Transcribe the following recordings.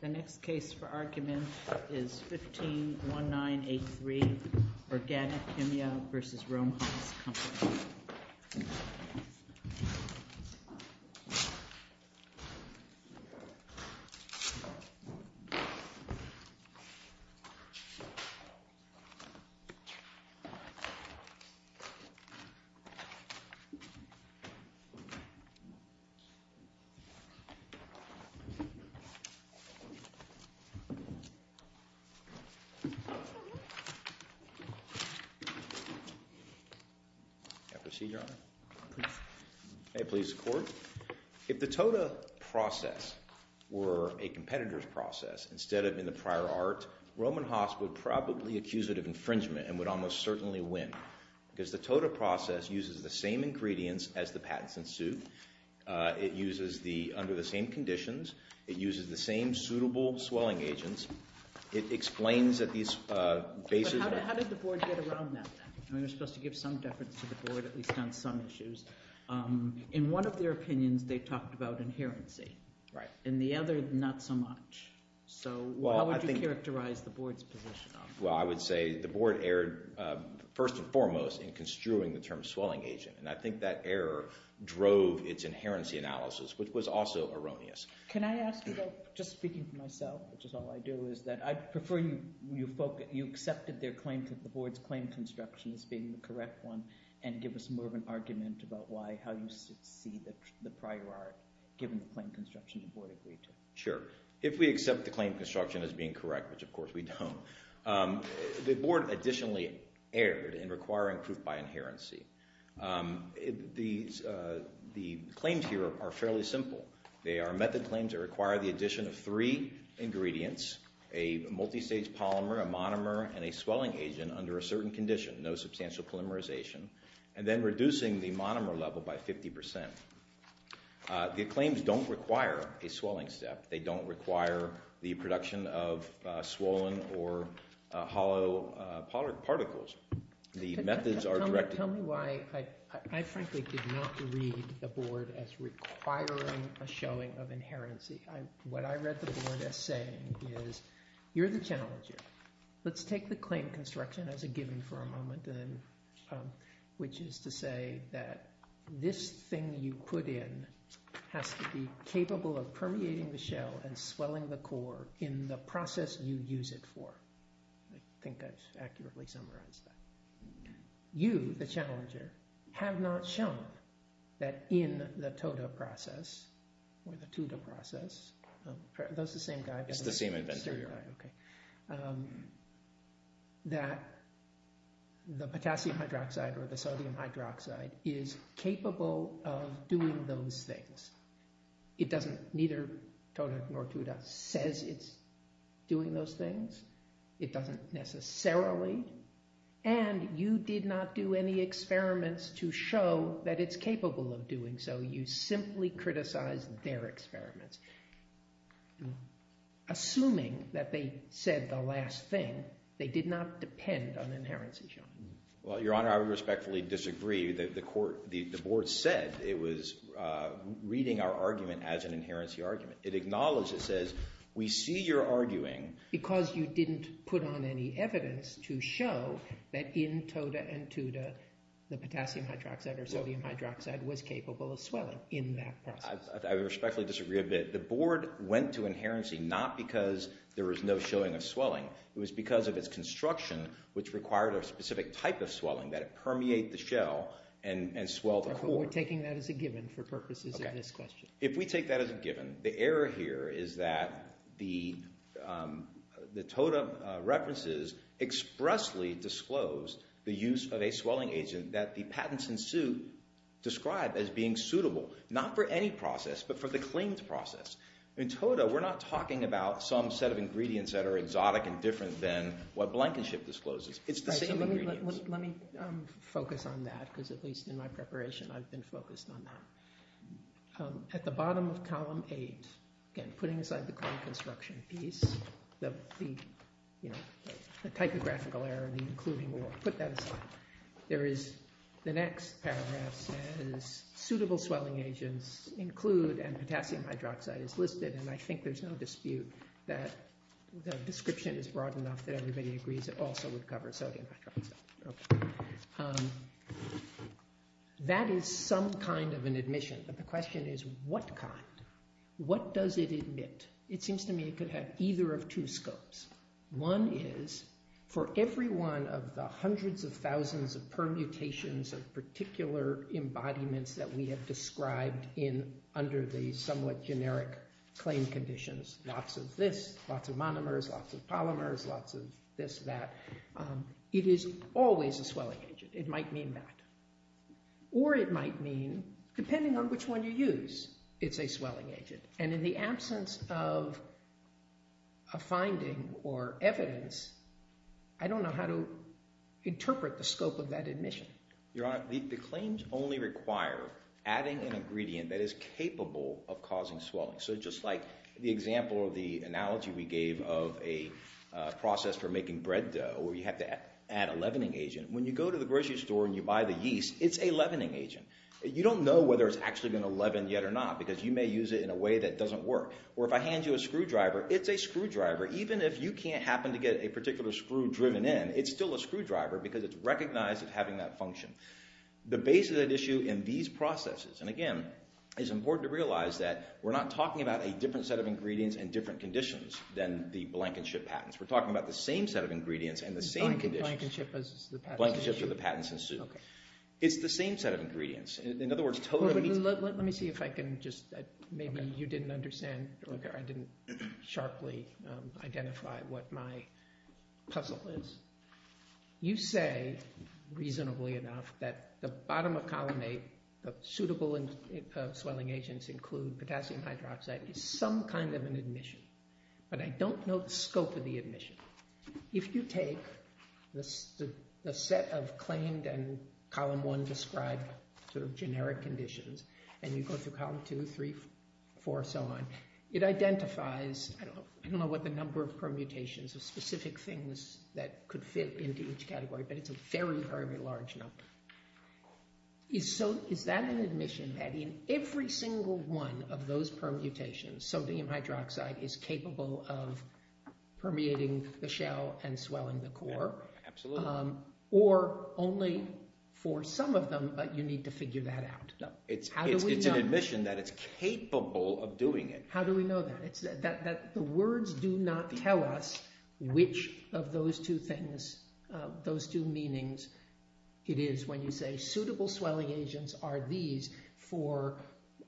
The next case for argument is 15-1983 Organik Kimya AS v. Rohm Haas Company If the TOTA process were a competitor's process, instead of in the prior art, Rohm and Haas would probably accuse it of infringement and would almost certainly win, because the TOTA process uses the same ingredients as the patents in suit, it uses under the same conditions, it uses the same suitable swelling agents, it explains that these bases... But how did the board get around that then? I mean, they're supposed to give some deference to the board, at least on some issues. In one of their opinions, they talked about inherency, in the other, not so much. So how would you characterize the board's position on that? Well, I would say the board erred, first and foremost, in construing the term swelling agent. And I think that error drove its inherency analysis, which was also erroneous. Can I ask, though, just speaking for myself, which is all I do, is that I'd prefer you accept their claim to the board's claim construction as being the correct one, and give us more of an argument about why, how you see the prior art, given the claim construction the board agreed to. Sure. If we accept the claim construction as being correct, which of course we don't. The board additionally erred in requiring proof by inherency. The claims here are fairly simple. They are method claims that require the addition of three ingredients, a multistage polymer, a monomer, and a swelling agent under a certain condition, no substantial polymerization, and then reducing the monomer level by 50%. The claims don't require a swelling step. They don't require the production of swollen or hollow particles. The methods are directed... Tell me why I frankly did not read the board as requiring a showing of inherency. What I read the board as saying is, you're the genealogist. Let's take the claim construction as a given for a moment, which is to say that this thing you put in has to be capable of permeating the shell and swelling the core in the process you use it for. I think I've accurately summarized that. You, the challenger, have not shown that in the TODA process, or the TUDA process, that the potassium hydroxide or the sodium hydroxide is capable of doing those things. Neither TODA nor TUDA says it's doing those things. It doesn't necessarily. And you did not do any experiments to show that it's capable of doing so. You simply criticized their experiments. Assuming that they said the last thing, they did not depend on inherency showing. Well, Your Honor, I would respectfully disagree. The board said it was reading our argument as an inherency argument. It acknowledged, it says, we see you're arguing... Because you didn't put on any evidence to show that in TODA and TUDA, the potassium hydroxide or sodium hydroxide was capable of swelling in that process. I would respectfully disagree a bit. The board went to inherency not because there was no showing of swelling. It was because of its construction, which required a specific type of swelling, that it permeated the shell and swelled the core. We're taking that as a given for purposes of this question. If we take that as a given, the error here is that the TODA references expressly disclosed the use of a swelling agent that the patents in suit describe as being suitable, not for any process, but for the claimed process. In TODA, we're not talking about some set of ingredients that are exotic and different than what Blankenship discloses. It's the same ingredients. Let me focus on that, because at least in my preparation, I've been focused on that. At the bottom of Column 8, again, putting aside the core construction piece, the typographical error, the including, we'll put that aside. The next paragraph says suitable swelling agents include, and potassium hydroxide is listed, and I think there's no dispute that the description is broad enough that everybody agrees it also would cover sodium hydroxide. That is some kind of an admission, but the question is what kind? What does it admit? It seems to me it could have either of two scopes. One is for every one of the hundreds of thousands of permutations of particular embodiments that we have described under the somewhat generic claim conditions, lots of this, lots of monomers, lots of polymers, lots of this, that, it is always a swelling agent. It might mean that. Or it might mean, depending on which one you use, it's a swelling agent. And in the absence of a finding or evidence, I don't know how to interpret the scope of that admission. Your Honor, the claims only require adding an ingredient that is capable of causing swelling. So just like the example or the analogy we gave of a process for making bread dough where you have to add a leavening agent, when you go to the grocery store and you buy the yeast, it's a leavening agent. You don't know whether it's actually going to leaven yet or not because you may use it in a way that doesn't work. Or if I hand you a screwdriver, it's a screwdriver. Even if you can't happen to get a particular screw driven in, it's still a screwdriver because it's recognized as having that function. The basis of that issue in these processes, and again, it's important to realize that we're not talking about a different set of ingredients and different conditions than the blankenship patents. We're talking about the same set of ingredients and the same conditions. Blankenship for the patents in suit. It's the same set of ingredients. In other words, totally— Let me see if I can just—maybe you didn't understand. I didn't sharply identify what my puzzle is. You say, reasonably enough, that the bottom of colonnade, the suitable swelling agents include potassium hydroxide, is some kind of an admission. But I don't know the scope of the admission. If you take the set of claimed and column one described sort of generic conditions and you go through column two, three, four, so on, it identifies—I don't know what the number of permutations, the specific things that could fit into each category, but it's a very, very large number. Is that an admission that in every single one of those permutations, sodium hydroxide is capable of permeating the shell and swelling the core? Absolutely. Or only for some of them, but you need to figure that out? No. It's an admission that it's capable of doing it. How do we know that? The words do not tell us which of those two things, those two meanings it is when you say suitable swelling agents are these for,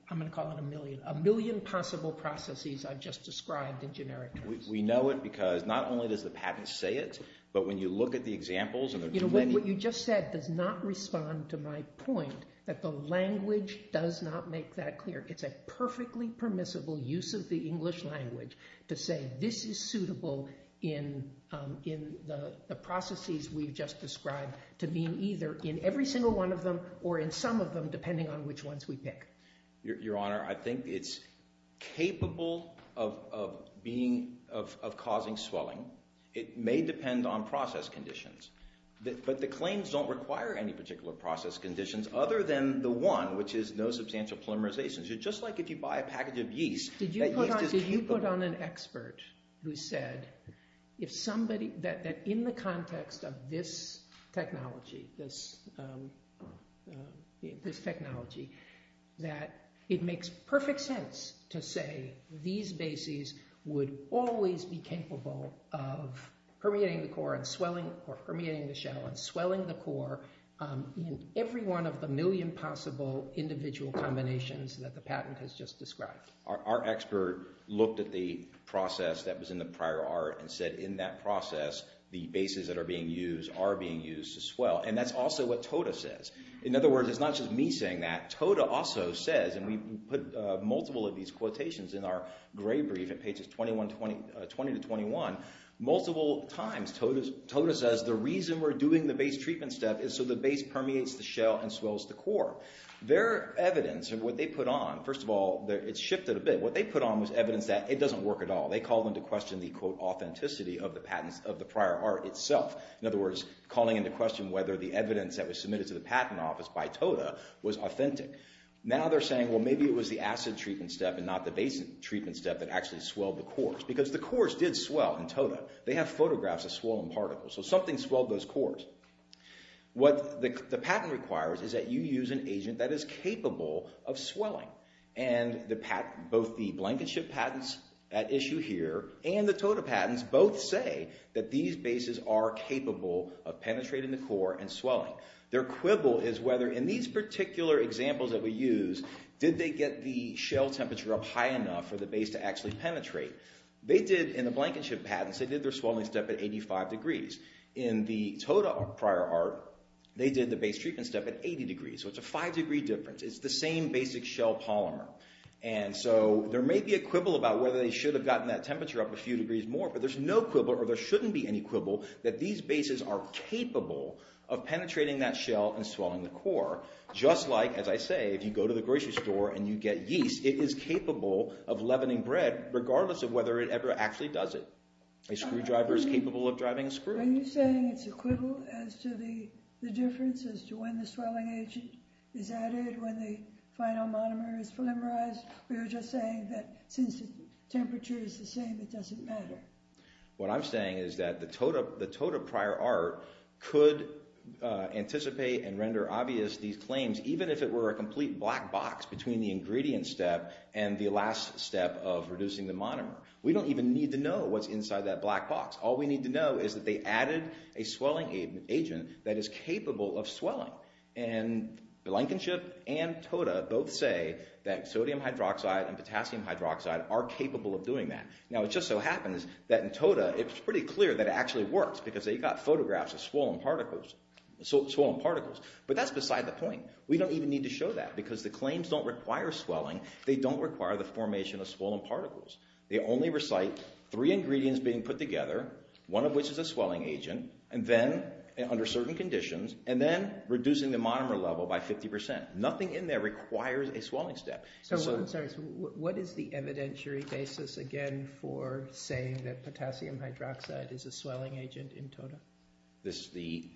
I'm going to call it a million, a million possible processes I've just described in generic terms. We know it because not only does the patent say it, but when you look at the examples— What you just said does not respond to my point that the language does not make that clear. It's a perfectly permissible use of the English language to say this is suitable in the processes we've just described to being either in every single one of them or in some of them depending on which ones we pick. Your Honor, I think it's capable of causing swelling. It may depend on process conditions, but the claims don't require any particular process conditions other than the one, which is no substantial polymerization. It's just like if you buy a package of yeast. Did you put on an expert who said that in the context of this technology, this technology, that it makes perfect sense to say these bases would always be capable of permeating the core and swelling or permeating the shell and swelling the core in every one of the million possible individual combinations that the patent has just described. Our expert looked at the process that was in the prior art and said in that process the bases that are being used are being used to swell. And that's also what Toda says. In other words, it's not just me saying that. Toda also says, and we put multiple of these quotations in our gray brief at pages 20 to 21, multiple times Toda says the reason we're doing the base treatment step is so the base permeates the shell and swells the core. Their evidence and what they put on, first of all, it's shifted a bit. What they put on was evidence that it doesn't work at all. They called into question the, quote, authenticity of the patents of the prior art itself. In other words, calling into question whether the evidence that was submitted to the patent office by Toda was authentic. Now they're saying, well, maybe it was the acid treatment step and not the base treatment step that actually swelled the cores. Because the cores did swell in Toda. They have photographs of swollen particles. So something swelled those cores. What the patent requires is that you use an agent that is capable of swelling. And both the Blankenship patents at issue here and the Toda patents both say that these bases are capable of penetrating the core and swelling. Their quibble is whether in these particular examples that we use, did they get the shell temperature up high enough for the base to actually penetrate. They did in the Blankenship patents, they did their swelling step at 85 degrees. In the Toda prior art, they did the base treatment step at 80 degrees. So it's a five degree difference. It's the same basic shell polymer. And so there may be a quibble about whether they should have gotten that temperature up a few degrees more, but there's no quibble or there shouldn't be any quibble that these bases are capable of penetrating that shell and swelling the core. Just like, as I say, if you go to the grocery store and you get yeast, it is capable of leavening bread regardless of whether it ever actually does it. A screwdriver is capable of driving a screw. Are you saying it's a quibble as to the difference as to when the swelling agent is added, when the final monomer is polymerized? We were just saying that since the temperature is the same, it doesn't matter. What I'm saying is that the Toda prior art could anticipate and render obvious these claims, even if it were a complete black box between the ingredient step and the last step of reducing the monomer. We don't even need to know what's inside that black box. All we need to know is that they added a swelling agent that is capable of swelling. Blankenship and Toda both say that sodium hydroxide and potassium hydroxide are capable of doing that. Now, it just so happens that in Toda, it's pretty clear that it actually works because they got photographs of swollen particles. But that's beside the point. We don't even need to show that because the claims don't require swelling. They don't require the formation of swollen particles. They only recite three ingredients being put together, one of which is a swelling agent under certain conditions, and then reducing the monomer level by 50%. Nothing in there requires a swelling step. So what is the evidentiary basis, again, for saying that potassium hydroxide is a swelling agent in Toda? The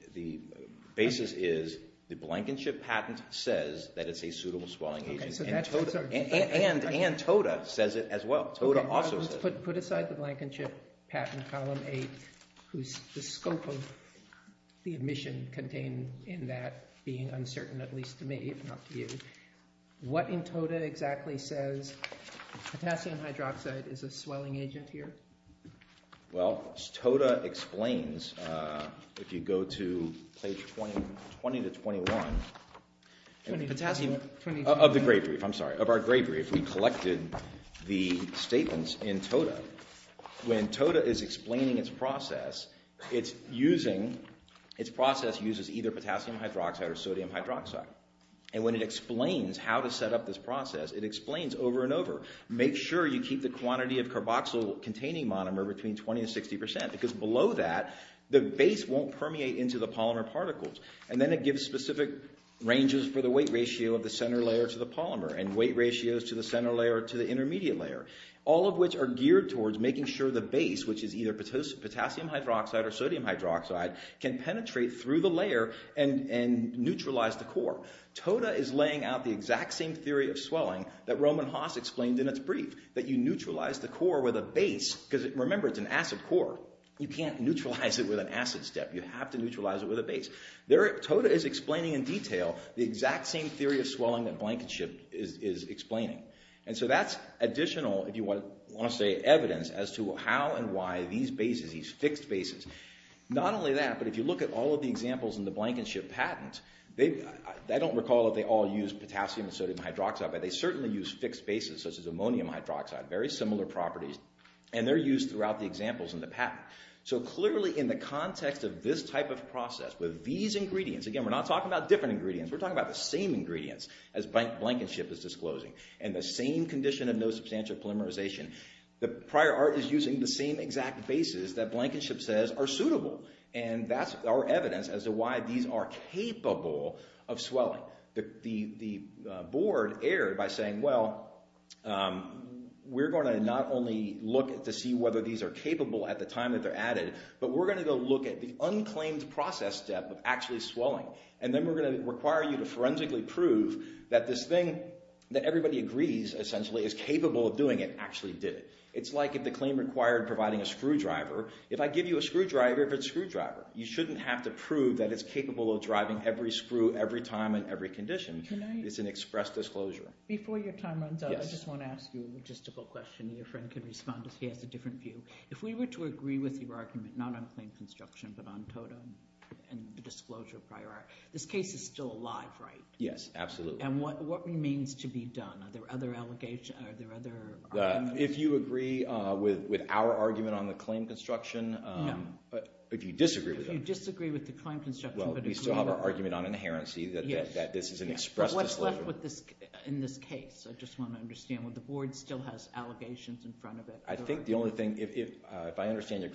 basis is the Blankenship patent says that it's a suitable swelling agent, and Toda says it as well. Let's put aside the Blankenship patent, Column 8, whose scope of the admission contained in that being uncertain, at least to me, if not to you. What in Toda exactly says potassium hydroxide is a swelling agent here? Well, Toda explains. If you go to page 20 to 21 of the Gray Brief, I'm sorry, of our Gray Brief, we collected the statements in Toda. When Toda is explaining its process, its process uses either potassium hydroxide or sodium hydroxide. And when it explains how to set up this process, it explains over and over, make sure you keep the quantity of carboxyl-containing monomer between 20% and 60% because below that, the base won't permeate into the polymer particles. And then it gives specific ranges for the weight ratio of the center layer to the polymer and weight ratios to the center layer to the intermediate layer, all of which are geared towards making sure the base, which is either potassium hydroxide or sodium hydroxide, can penetrate through the layer and neutralize the core. Toda is laying out the exact same theory of swelling that Roman Haas explained in its brief, that you neutralize the core with a base because, remember, it's an acid core. You can't neutralize it with an acid step. You have to neutralize it with a base. Toda is explaining in detail the exact same theory of swelling that Blankenship is explaining. And so that's additional, if you want to say evidence, as to how and why these bases, these fixed bases, not only that, but if you look at all of the examples in the Blankenship patent, I don't recall that they all use potassium and sodium hydroxide, but they certainly use fixed bases such as ammonium hydroxide, very similar properties, and they're used throughout the examples in the patent. So clearly in the context of this type of process with these ingredients, again, we're not talking about different ingredients, we're talking about the same ingredients as Blankenship is disclosing, and the same condition of no substantial polymerization, the prior art is using the same exact bases that Blankenship says are suitable. And that's our evidence as to why these are capable of swelling. The board erred by saying, well, we're going to not only look to see whether these are capable at the time that they're added, but we're going to go look at the unclaimed process step of actually swelling, and then we're going to require you to forensically prove that this thing that everybody agrees essentially is capable of doing it actually did it. It's like if the claim required providing a screwdriver, if I give you a screwdriver, if it's screwdriver, you shouldn't have to prove that it's capable of driving every screw every time in every condition. It's an express disclosure. Before your time runs out, I just want to ask you a logistical question, and your friend can respond if he has a different view. If we were to agree with your argument, not on claim construction, but on TOTA and the disclosure of prior art, this case is still alive, right? Yes, absolutely. And what remains to be done? Are there other arguments? If you agree with our argument on the claim construction, but if you disagree with it. If you disagree with the claim construction, but agree with it. Well, we still have our argument on inherency that this is an express disclosure. In this case, I just want to understand, would the board still have allegations in front of it? I think the only thing, if I understand your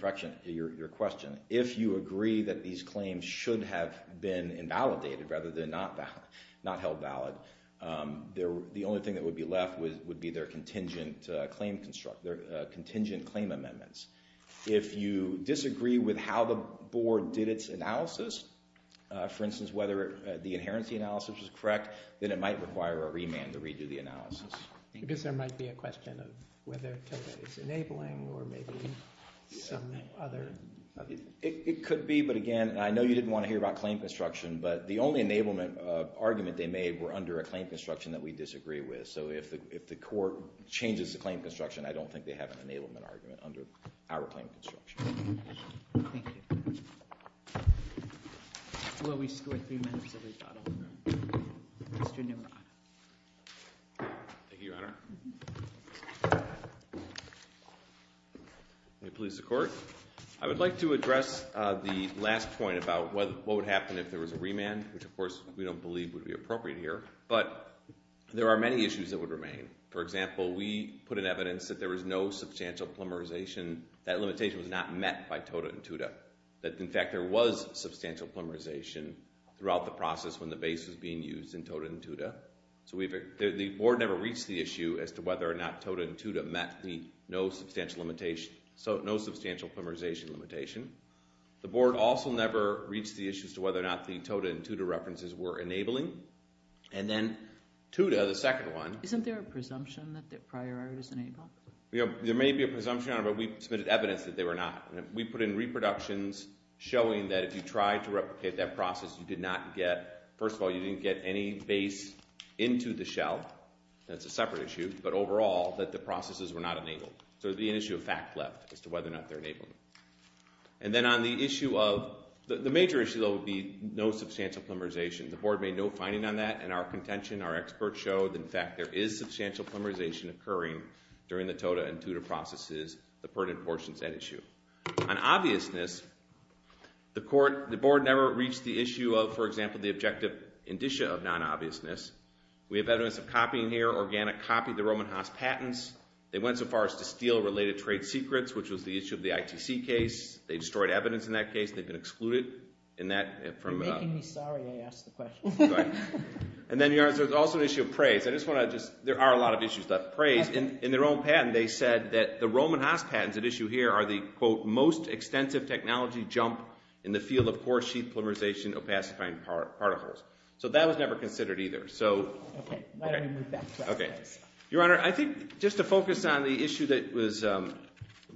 question, if you agree that these claims should have been invalidated rather than not held valid, the only thing that would be left would be their contingent claim amendments. If you disagree with how the board did its analysis, for instance, whether the inherency analysis was correct, then it might require a remand to redo the analysis. I guess there might be a question of whether TOTA is enabling or maybe some other. It could be, but again, I know you didn't want to hear about claim construction, but the only enablement argument they made were under a claim construction that we disagree with. So if the court changes the claim construction, I don't think they have an enablement argument under our claim construction. Thank you. Well, we've scored three minutes of rebuttal. Mr. Neumann. Thank you, Your Honor. May it please the court. I would like to address the last point about what would happen if there was a remand, which of course we don't believe would be appropriate here, but there are many issues that would remain. For example, we put in evidence that there was no substantial plumberization. That limitation was not met by TOTA and TUDA. In fact, there was substantial plumberization throughout the process when the base was being used in TOTA and TUDA. So the board never reached the issue as to whether or not TOTA and TUDA met the no substantial plumberization limitation. The board also never reached the issue as to whether or not the TOTA and TUDA references were enabling. And then TUDA, the second one. Isn't there a presumption that the prior art is enabled? There may be a presumption on it, but we submitted evidence that they were not. We put in reproductions showing that if you tried to replicate that process, you did not get, first of all, you didn't get any base into the shell. That's a separate issue. But overall, that the processes were not enabled. So there would be an issue of fact left as to whether or not they're enabling. And then on the issue of, the major issue though would be no substantial plumberization. The board made no finding on that, and our contention, our experts showed. In fact, there is substantial plumberization occurring during the TOTA and TUDA processes, the pertinent portions at issue. On obviousness, the board never reached the issue of, for example, the objective indicia of non-obviousness. We have evidence of copying here. Organic copied the Roman Haas patents. They went so far as to steal related trade secrets, which was the issue of the ITC case. They destroyed evidence in that case. They've been excluded in that. You're making me sorry I asked the question. And then there's also an issue of praise. There are a lot of issues about praise. In their own patent, they said that the Roman Haas patents at issue here are the, quote, most extensive technology jump in the field of core-sheath plumberization of pacifying particles. So that was never considered either. Your Honor, I think just to focus on the issue that was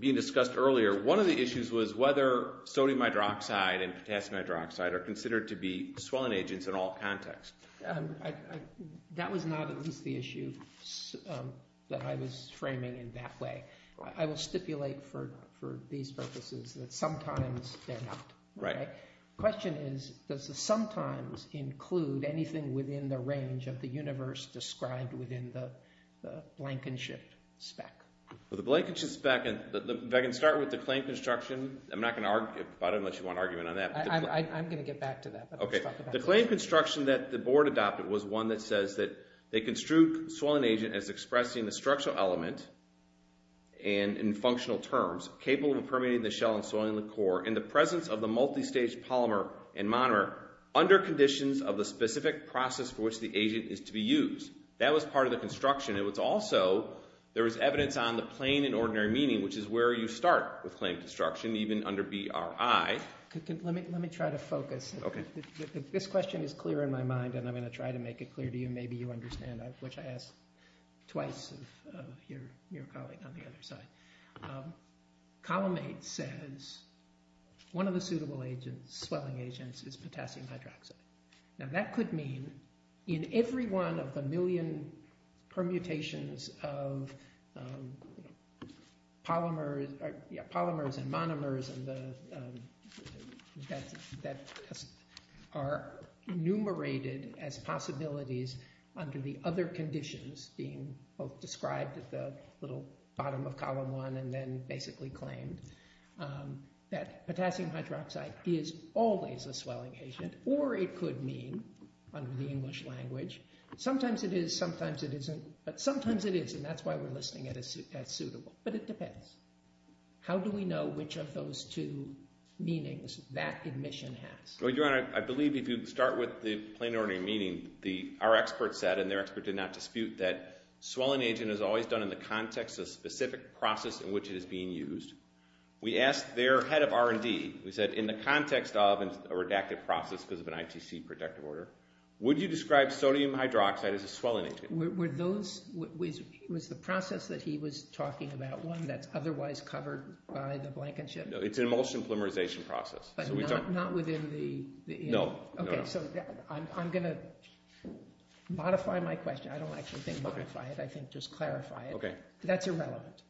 being discussed earlier, one of the issues was whether sodium hydroxide and potassium hydroxide are considered to be swelling agents in all contexts. That was not at least the issue that I was framing in that way. I will stipulate for these purposes that sometimes they're not. The question is, does the sometimes include anything within the range of the universe described within the Blankenship spec? The Blankenship spec, if I can start with the claim construction. I'm not going to argue about it unless you want an argument on that. I'm going to get back to that. The claim construction that the board adopted was one that says that they construed swelling agent as expressing the structural element and in functional terms, capable of permeating the shell and swelling the core in the presence of the multistage polymer and monomer under conditions of the specific process for which the agent is to be used. That was part of the construction. It was also, there was evidence on the plain and ordinary meaning, which is where you start with claim construction, even under BRI. Let me try to focus. This question is clear in my mind, and I'm going to try to make it clear to you. Maybe you understand, which I asked twice of your colleague on the other side. Column 8 says one of the suitable agents, swelling agents, is potassium hydroxide. Now that could mean in every one of the million permutations of polymers and monomers that are enumerated as possibilities under the other conditions being both described at the little bottom of column 1 and then basically claimed that potassium hydroxide is always a swelling agent, or it could mean, under the English language, sometimes it is, sometimes it isn't, but sometimes it is, and that's why we're listing it as suitable. But it depends. How do we know which of those two meanings that admission has? Your Honor, I believe if you start with the plain and ordinary meaning, our expert said, and their expert did not dispute, that swelling agent is always done in the context of a specific process in which it is being used. We asked their head of R&D, we said in the context of a redacted process because of an ITC protective order, would you describe sodium hydroxide as a swelling agent? Was the process that he was talking about one that's otherwise covered by the blankenship? No, it's an emulsion polymerization process. But not within the— No. Okay, so I'm going to modify my question. I don't actually think modify it, I think just clarify it. Okay. That's irrelevant.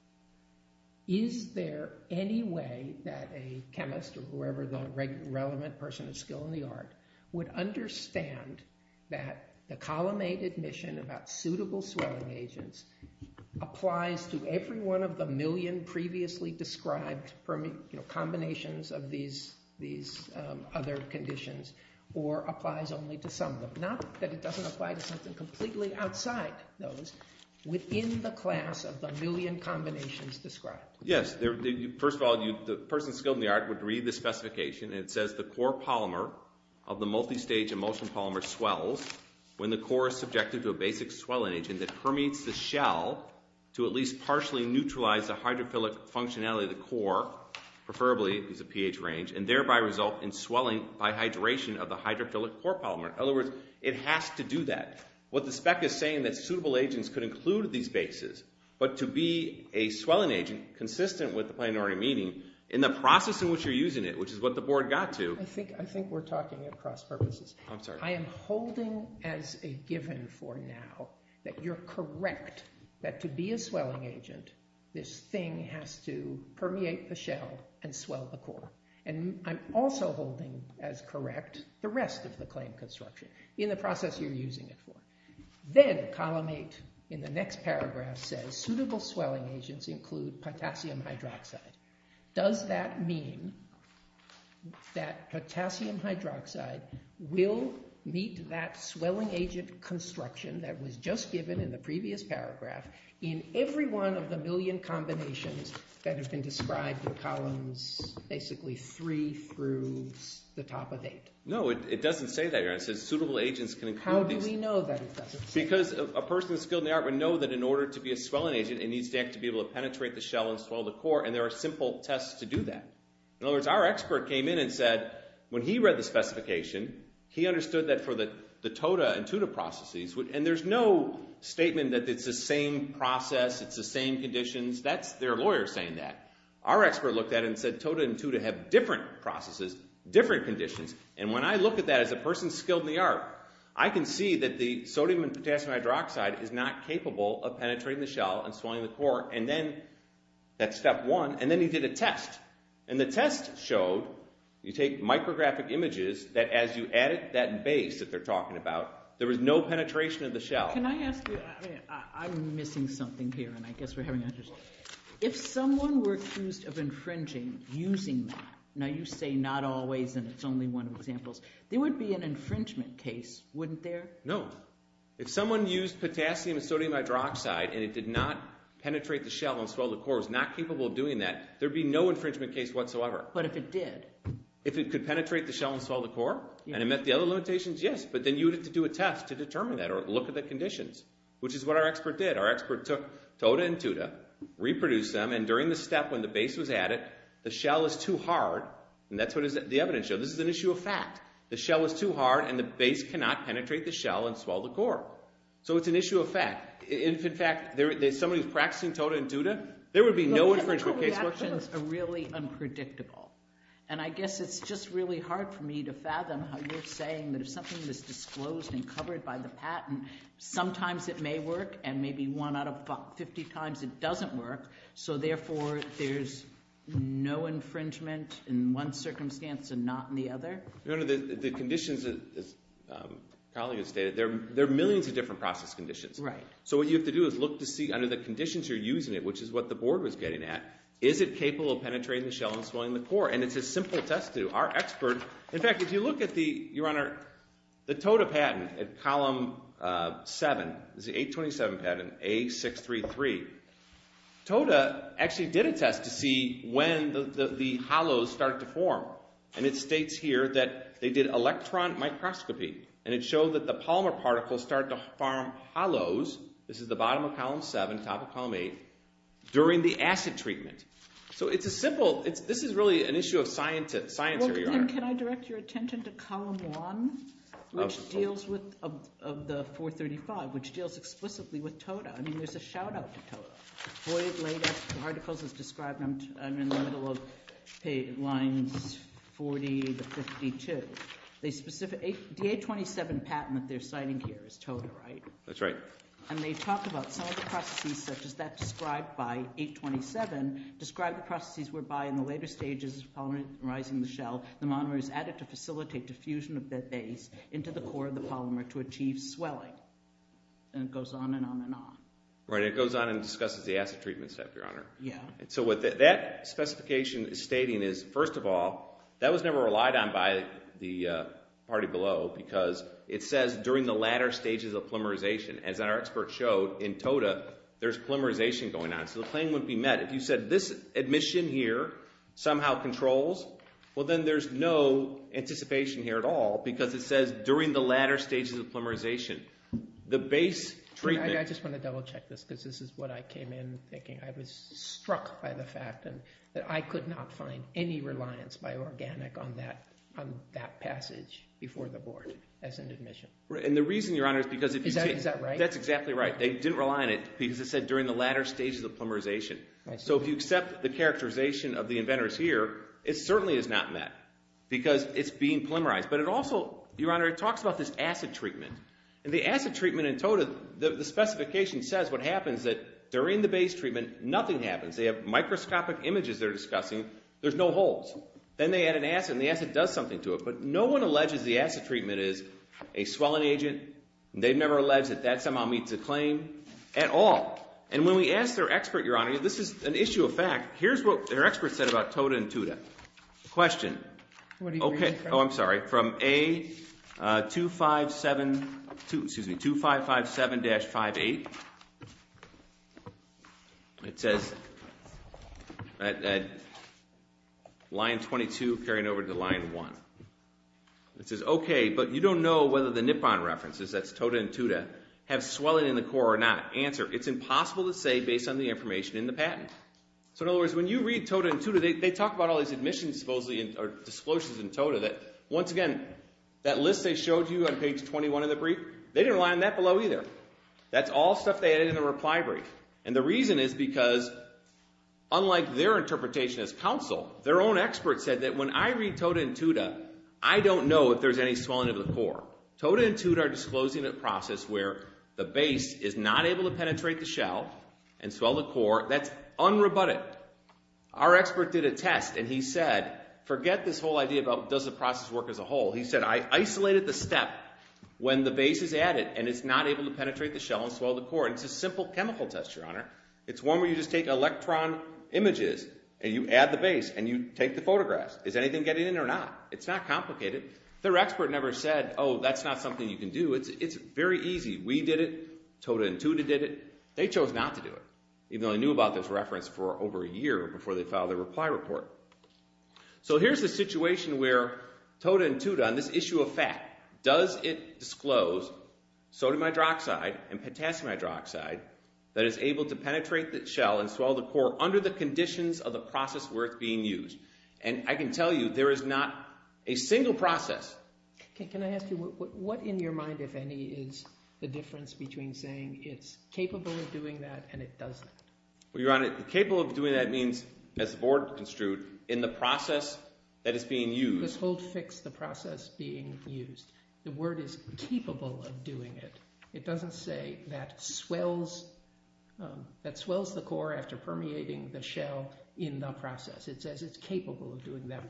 Is there any way that a chemist, or whoever the relevant person of skill in the art, would understand that the column 8 admission about suitable swelling agents applies to every one of the million previously described combinations of these other conditions, or applies only to some of them? Not that it doesn't apply to something completely outside those, within the class of the million combinations described. Yes. First of all, the person skilled in the art would read the specification, and it says the core polymer of the multistage emulsion polymer swells when the core is subjected to a basic swelling agent that permeates the shell to at least partially neutralize the hydrophilic functionality of the core, preferably it's a pH range, and thereby result in swelling by hydration of the hydrophilic core polymer. In other words, it has to do that. What the spec is saying is that suitable agents could include these bases, but to be a swelling agent consistent with the planetary meaning, in the process in which you're using it, which is what the board got to— I think we're talking at cross purposes. I'm sorry. I'm holding as a given for now that you're correct that to be a swelling agent, this thing has to permeate the shell and swell the core. And I'm also holding as correct the rest of the claim construction, in the process you're using it for. Then column 8 in the next paragraph says suitable swelling agents include potassium hydroxide. Does that mean that potassium hydroxide will meet that swelling agent construction that was just given in the previous paragraph in every one of the million combinations that have been described in columns basically 3 through the top of 8? No, it doesn't say that here. It says suitable agents can include these— How do we know that it doesn't say that? Because a person skilled in the art would know that in order to be a swelling agent, it needs to be able to penetrate the shell and swell the core, and there are simple tests to do that. In other words, our expert came in and said when he read the specification, he understood that for the TODA and TUDA processes, and there's no statement that it's the same process, it's the same conditions. That's their lawyer saying that. Our expert looked at it and said TODA and TUDA have different processes, different conditions. And when I look at that as a person skilled in the art, I can see that the sodium and potassium hydroxide is not capable of penetrating the shell and swelling the core. And then that's step one. And then he did a test, and the test showed, you take micrographic images, that as you added that base that they're talking about, there was no penetration of the shell. Can I ask you—I'm missing something here, and I guess we're having a discussion. If someone were accused of infringing using that, now you say not always and it's only one of the examples, there would be an infringement case, wouldn't there? No. If someone used potassium and sodium hydroxide and it did not penetrate the shell and swell the core, was not capable of doing that, there would be no infringement case whatsoever. But if it did? If it could penetrate the shell and swell the core, and it met the other limitations, yes. But then you would have to do a test to determine that or look at the conditions, which is what our expert did. Our expert took TODA and TUDA, reproduced them, and during the step when the base was added, the shell was too hard, and that's what the evidence showed. This is an issue of fact. The shell was too hard, and the base cannot penetrate the shell and swell the core. So it's an issue of fact. If, in fact, somebody was practicing TODA and TUDA, there would be no infringement case. Those are really unpredictable, and I guess it's just really hard for me to fathom how you're saying that if something was disclosed and covered by the patent, sometimes it may work and maybe one out of 50 times it doesn't work, so therefore there's no infringement in one circumstance and not in the other? The conditions, as the colleague has stated, there are millions of different process conditions. So what you have to do is look to see under the conditions you're using it, which is what the board was getting at, is it capable of penetrating the shell and swelling the core? And it's a simple test to do. Our expert, in fact, if you look at the TODA patent at column 7, it's the 827 patent, A633, TODA actually did a test to see when the hollows start to form, and it states here that they did electron microscopy, and it showed that the polymer particles start to form hollows, this is the bottom of column 7, top of column 8, during the acid treatment. So it's a simple, this is really an issue of science. Can I direct your attention to column 1, which deals with the 435, which deals explicitly with TODA. I mean, there's a shout-out to TODA. Void latex particles is described in the middle of lines 40 to 52. The 827 patent that they're citing here is TODA, right? That's right. And they talk about some of the processes, such as that described by 827, describe the processes whereby in the later stages of polymerizing the shell, the monomer is added to facilitate diffusion of that base into the core of the polymer to achieve swelling. And it goes on and on and on. Right. It goes on and discusses the acid treatment stuff, Your Honor. Yeah. So what that specification is stating is, first of all, that was never relied on by the party below because it says during the latter stages of polymerization. As our expert showed in TODA, there's polymerization going on. So the claim wouldn't be met. If you said this admission here somehow controls, well, then there's no anticipation here at all because it says during the latter stages of polymerization. I just want to double check this because this is what I came in thinking. I was struck by the fact that I could not find any reliance by Organic on that passage before the board as an admission. And the reason, Your Honor, is because if you take— Is that right? That's exactly right. They didn't rely on it because it said during the latter stages of polymerization. So if you accept the characterization of the inventors here, it certainly is not met because it's being polymerized. But it also, Your Honor, it talks about this acid treatment. And the acid treatment in TODA, the specification says what happens, that during the base treatment, nothing happens. They have microscopic images they're discussing. There's no holes. Then they add an acid, and the acid does something to it. But no one alleges the acid treatment is a swelling agent. They've never alleged that that somehow meets a claim at all. And when we asked their expert, Your Honor, this is an issue of fact. Here's what their expert said about TODA and TUDA. Question. Oh, I'm sorry. From A2557-58, it says line 22 carrying over to line 1. It says, okay, but you don't know whether the Nippon references, that's TODA and TUDA, have swelling in the core or not. Answer, it's impossible to say based on the information in the patent. So, in other words, when you read TODA and TUDA, they talk about all these admissions disclosures in TODA. Once again, that list they showed you on page 21 of the brief, they didn't rely on that below either. That's all stuff they added in the reply brief. And the reason is because, unlike their interpretation as counsel, their own expert said that when I read TODA and TUDA, I don't know if there's any swelling of the core. TODA and TUDA are disclosing a process where the base is not able to penetrate the shell and swell the core. That's unrebutted. But our expert did a test and he said, forget this whole idea about does the process work as a whole. He said, I isolated the step when the base is added and it's not able to penetrate the shell and swell the core. And it's a simple chemical test, Your Honor. It's one where you just take electron images and you add the base and you take the photographs. Is anything getting in or not? It's not complicated. Their expert never said, oh, that's not something you can do. It's very easy. We did it. TODA and TUDA did it. They chose not to do it, even though they knew about this reference for over a year before they filed their reply report. So here's the situation where TODA and TUDA on this issue of fat, does it disclose sodium hydroxide and potassium hydroxide that is able to penetrate the shell and swell the core under the conditions of the process where it's being used. And I can tell you there is not a single process. Can I ask you, what in your mind, if any, is the difference between saying it's capable of doing that and it doesn't? Well, Your Honor, capable of doing that means, as the board construed, in the process that is being used. Just hold fixed the process being used. The word is capable of doing it. It doesn't say that swells the core after permeating the shell in the process. It says it's capable of doing that.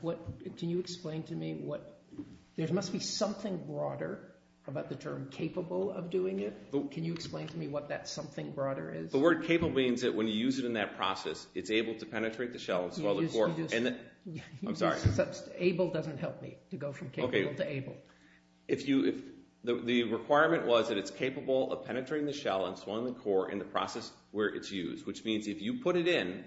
Can you explain to me what? There must be something broader about the term capable of doing it. Can you explain to me what that something broader is? The word capable means that when you use it in that process, it's able to penetrate the shell and swell the core. I'm sorry. Able doesn't help me to go from capable to able. The requirement was that it's capable of penetrating the shell and swelling the core in the process where it's used, which means if you put it in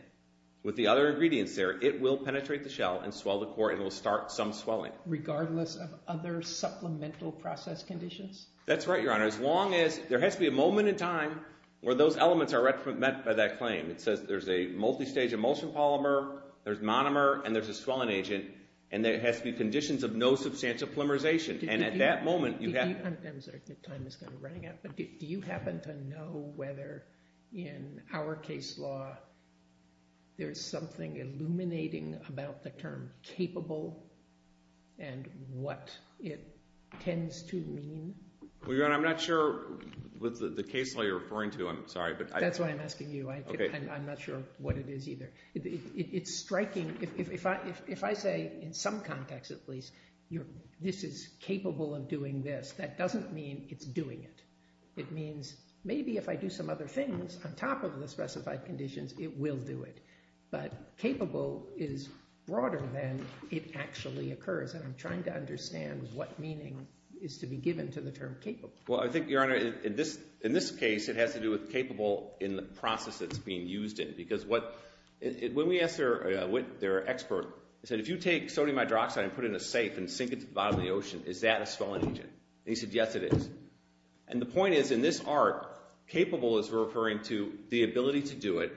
with the other ingredients there, it will penetrate the shell and swell the core, and it will start some swelling. Regardless of other supplemental process conditions? That's right, Your Honor. As long as there has to be a moment in time where those elements are met by that claim. It says there's a multistage emulsion polymer, there's monomer, and there's a swelling agent, and there has to be conditions of no substantial polymerization. And at that moment you have to... I'm sorry. The time is kind of running out. Do you happen to know whether in our case law there's something illuminating about the term capable and what it tends to mean? Your Honor, I'm not sure what the case law you're referring to. I'm sorry. That's why I'm asking you. I'm not sure what it is either. It's striking. If I say, in some context at least, this is capable of doing this, that doesn't mean it's doing it. It means maybe if I do some other things on top of the specified conditions, it will do it. But capable is broader than it actually occurs, and I'm trying to understand what meaning is to be given to the term capable. Well, I think, Your Honor, in this case, it has to do with capable in the process it's being used in. Because when we asked their expert, he said, if you take sodium hydroxide and put it in a safe and sink it to the bottom of the ocean, is that a swelling agent? And he said, yes, it is. And the point is, in this art, capable is referring to the ability to do it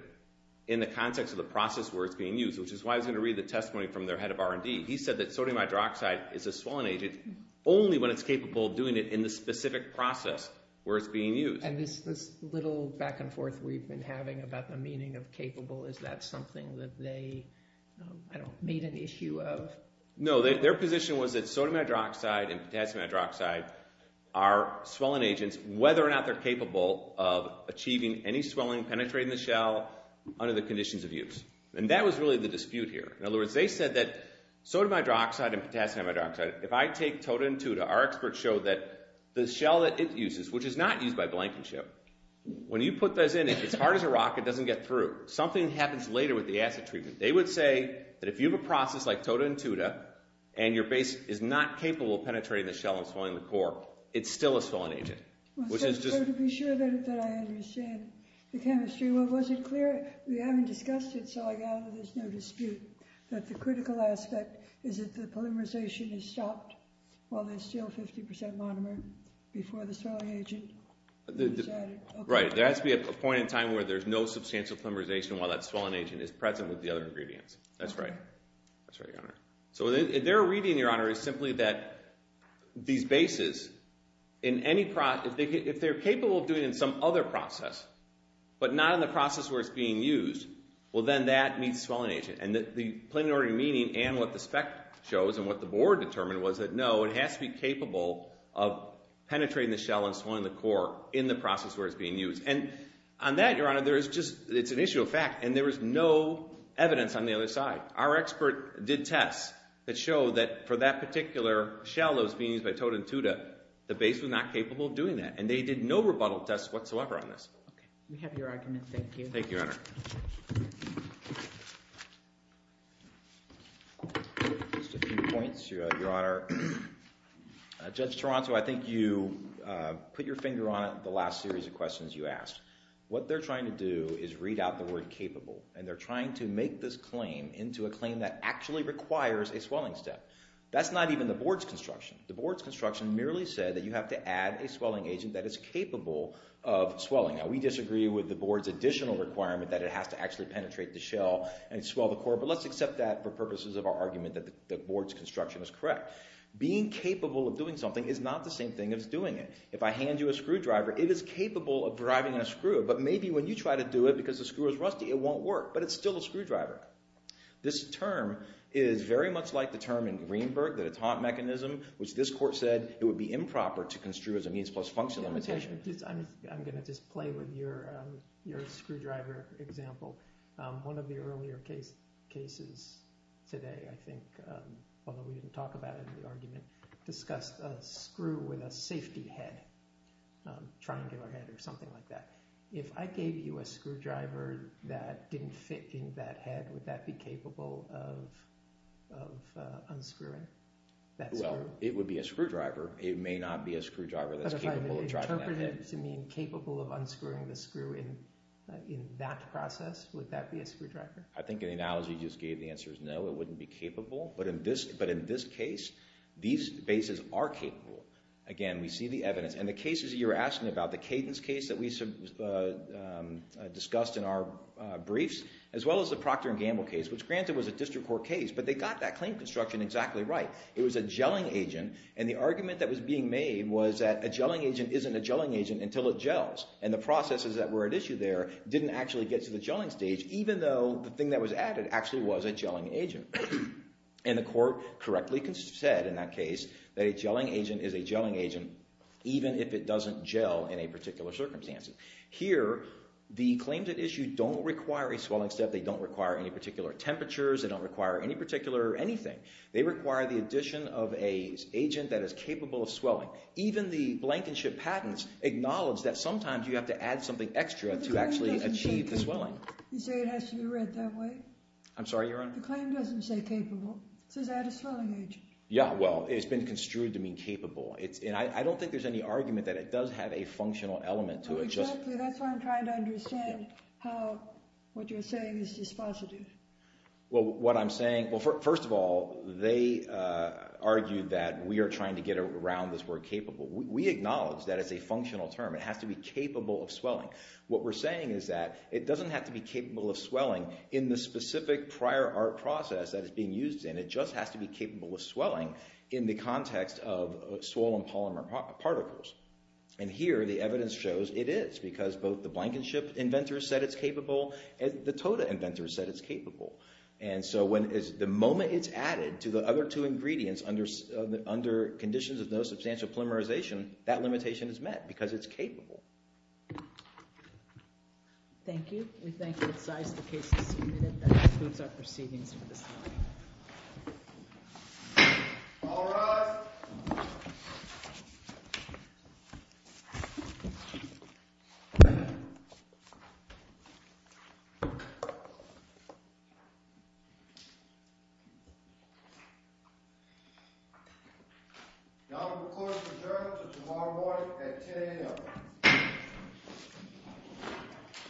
in the context of the process where it's being used, which is why I was going to read the testimony from their head of R&D. He said that sodium hydroxide is a swelling agent only when it's capable of doing it in the specific process where it's being used. And this little back and forth we've been having about the meaning of capable, is that something that they made an issue of? No, their position was that sodium hydroxide and potassium hydroxide are swelling agents whether or not they're capable of achieving any swelling penetrating the shell under the conditions of use. And that was really the dispute here. In other words, they said that sodium hydroxide and potassium hydroxide, if I take TOTA and TUDA, our experts show that the shell that it uses, which is not used by Blankenship, when you put those in, if it's hard as a rock, it doesn't get through. Something happens later with the acid treatment. They would say that if you have a process like TOTA and TUDA and your base is not capable of penetrating the shell and swelling the core, it's still a swelling agent. So to be sure that I understand the chemistry, well, was it clear? We haven't discussed it, so I gather there's no dispute that the critical aspect is that the polymerization is stopped while there's still 50% monomer before the swelling agent is added. Right. There has to be a point in time where there's no substantial polymerization while that swelling agent is present with the other ingredients. That's right. That's right, Your Honor. So their reading, Your Honor, is simply that these bases, if they're capable of doing it in some other process but not in the process where it's being used, well, then that meets swelling agent. And the plain and ordinary meaning and what the spec shows and what the board determined was that, no, it has to be capable of penetrating the shell and swelling the core in the process where it's being used. And on that, Your Honor, it's an issue of fact, and there is no evidence on the other side. Our expert did tests that show that for that particular shell that was being used by TOTA and TUDA, the base was not capable of doing that, and they did no rebuttal tests whatsoever on this. Okay. We have your argument. Thank you. Thank you, Your Honor. Just a few points, Your Honor. Judge Toronto, I think you put your finger on it in the last series of questions you asked. What they're trying to do is read out the word capable, and they're trying to make this claim into a claim that actually requires a swelling step. That's not even the board's construction. a swelling agent that is capable of swelling. Now, we disagree with the board's additional requirement that it has to actually penetrate the shell and swell the core, but let's accept that for purposes of our argument that the board's construction is correct. Being capable of doing something is not the same thing as doing it. If I hand you a screwdriver, it is capable of driving a screw, but maybe when you try to do it because the screw is rusty, it won't work, but it's still a screwdriver. This term is very much like the term in Greenberg that it's haunt mechanism, which this court said it would be improper to construe as a means-plus-function limitation. I'm going to just play with your screwdriver example. One of the earlier cases today, I think, although we didn't talk about it in the argument, discussed a screw with a safety head, triangular head or something like that. If I gave you a screwdriver that didn't fit in that head, would that be capable of unscrewing that screw? Well, it would be a screwdriver. It may not be a screwdriver that's capable of driving that head. If you interpreted it to mean capable of unscrewing the screw in that process, would that be a screwdriver? I think in the analogy you just gave, the answer is no, it wouldn't be capable. But in this case, these bases are capable. Again, we see the evidence. And the cases you were asking about, the Cadence case that we discussed in our briefs, as well as the Procter & Gamble case, which granted was a district court case, but they got that claim construction exactly right. It was a gelling agent, and the argument that was being made was that a gelling agent isn't a gelling agent until it gels. And the processes that were at issue there didn't actually get to the gelling stage, even though the thing that was added actually was a gelling agent. And the court correctly said in that case that a gelling agent is a gelling agent even if it doesn't gel in a particular circumstance. Here, the claims at issue don't require a swelling step. They don't require any particular temperatures. They don't require any particular anything. They require the addition of an agent that is capable of swelling. Even the Blankenship patents acknowledge that sometimes you have to add something extra to actually achieve the swelling. You say it has to be read that way? I'm sorry, Your Honor? The claim doesn't say capable. It says add a swelling agent. Yeah, well, it's been construed to mean capable. And I don't think there's any argument that it does have a functional element to it. Oh, exactly. That's why I'm trying to understand how what you're saying is dispositive. Well, what I'm saying... Well, first of all, they argued that we are trying to get around this word capable. We acknowledge that it's a functional term. It has to be capable of swelling. What we're saying is that it doesn't have to be capable of swelling in the specific prior art process that it's being used in. It just has to be capable of swelling in the context of swollen polymer particles. And here, the evidence shows it is because both the Blankenship inventors said it's capable and the Toda inventors said it's capable. And so the moment it's added to the other two ingredients under conditions of no substantial polymerization, that limitation is met because it's capable. Thank you. We thank you. That concludes our proceedings for this morning. All rise. Thank you. That will conclude the adjournment until tomorrow morning at 10 a.m.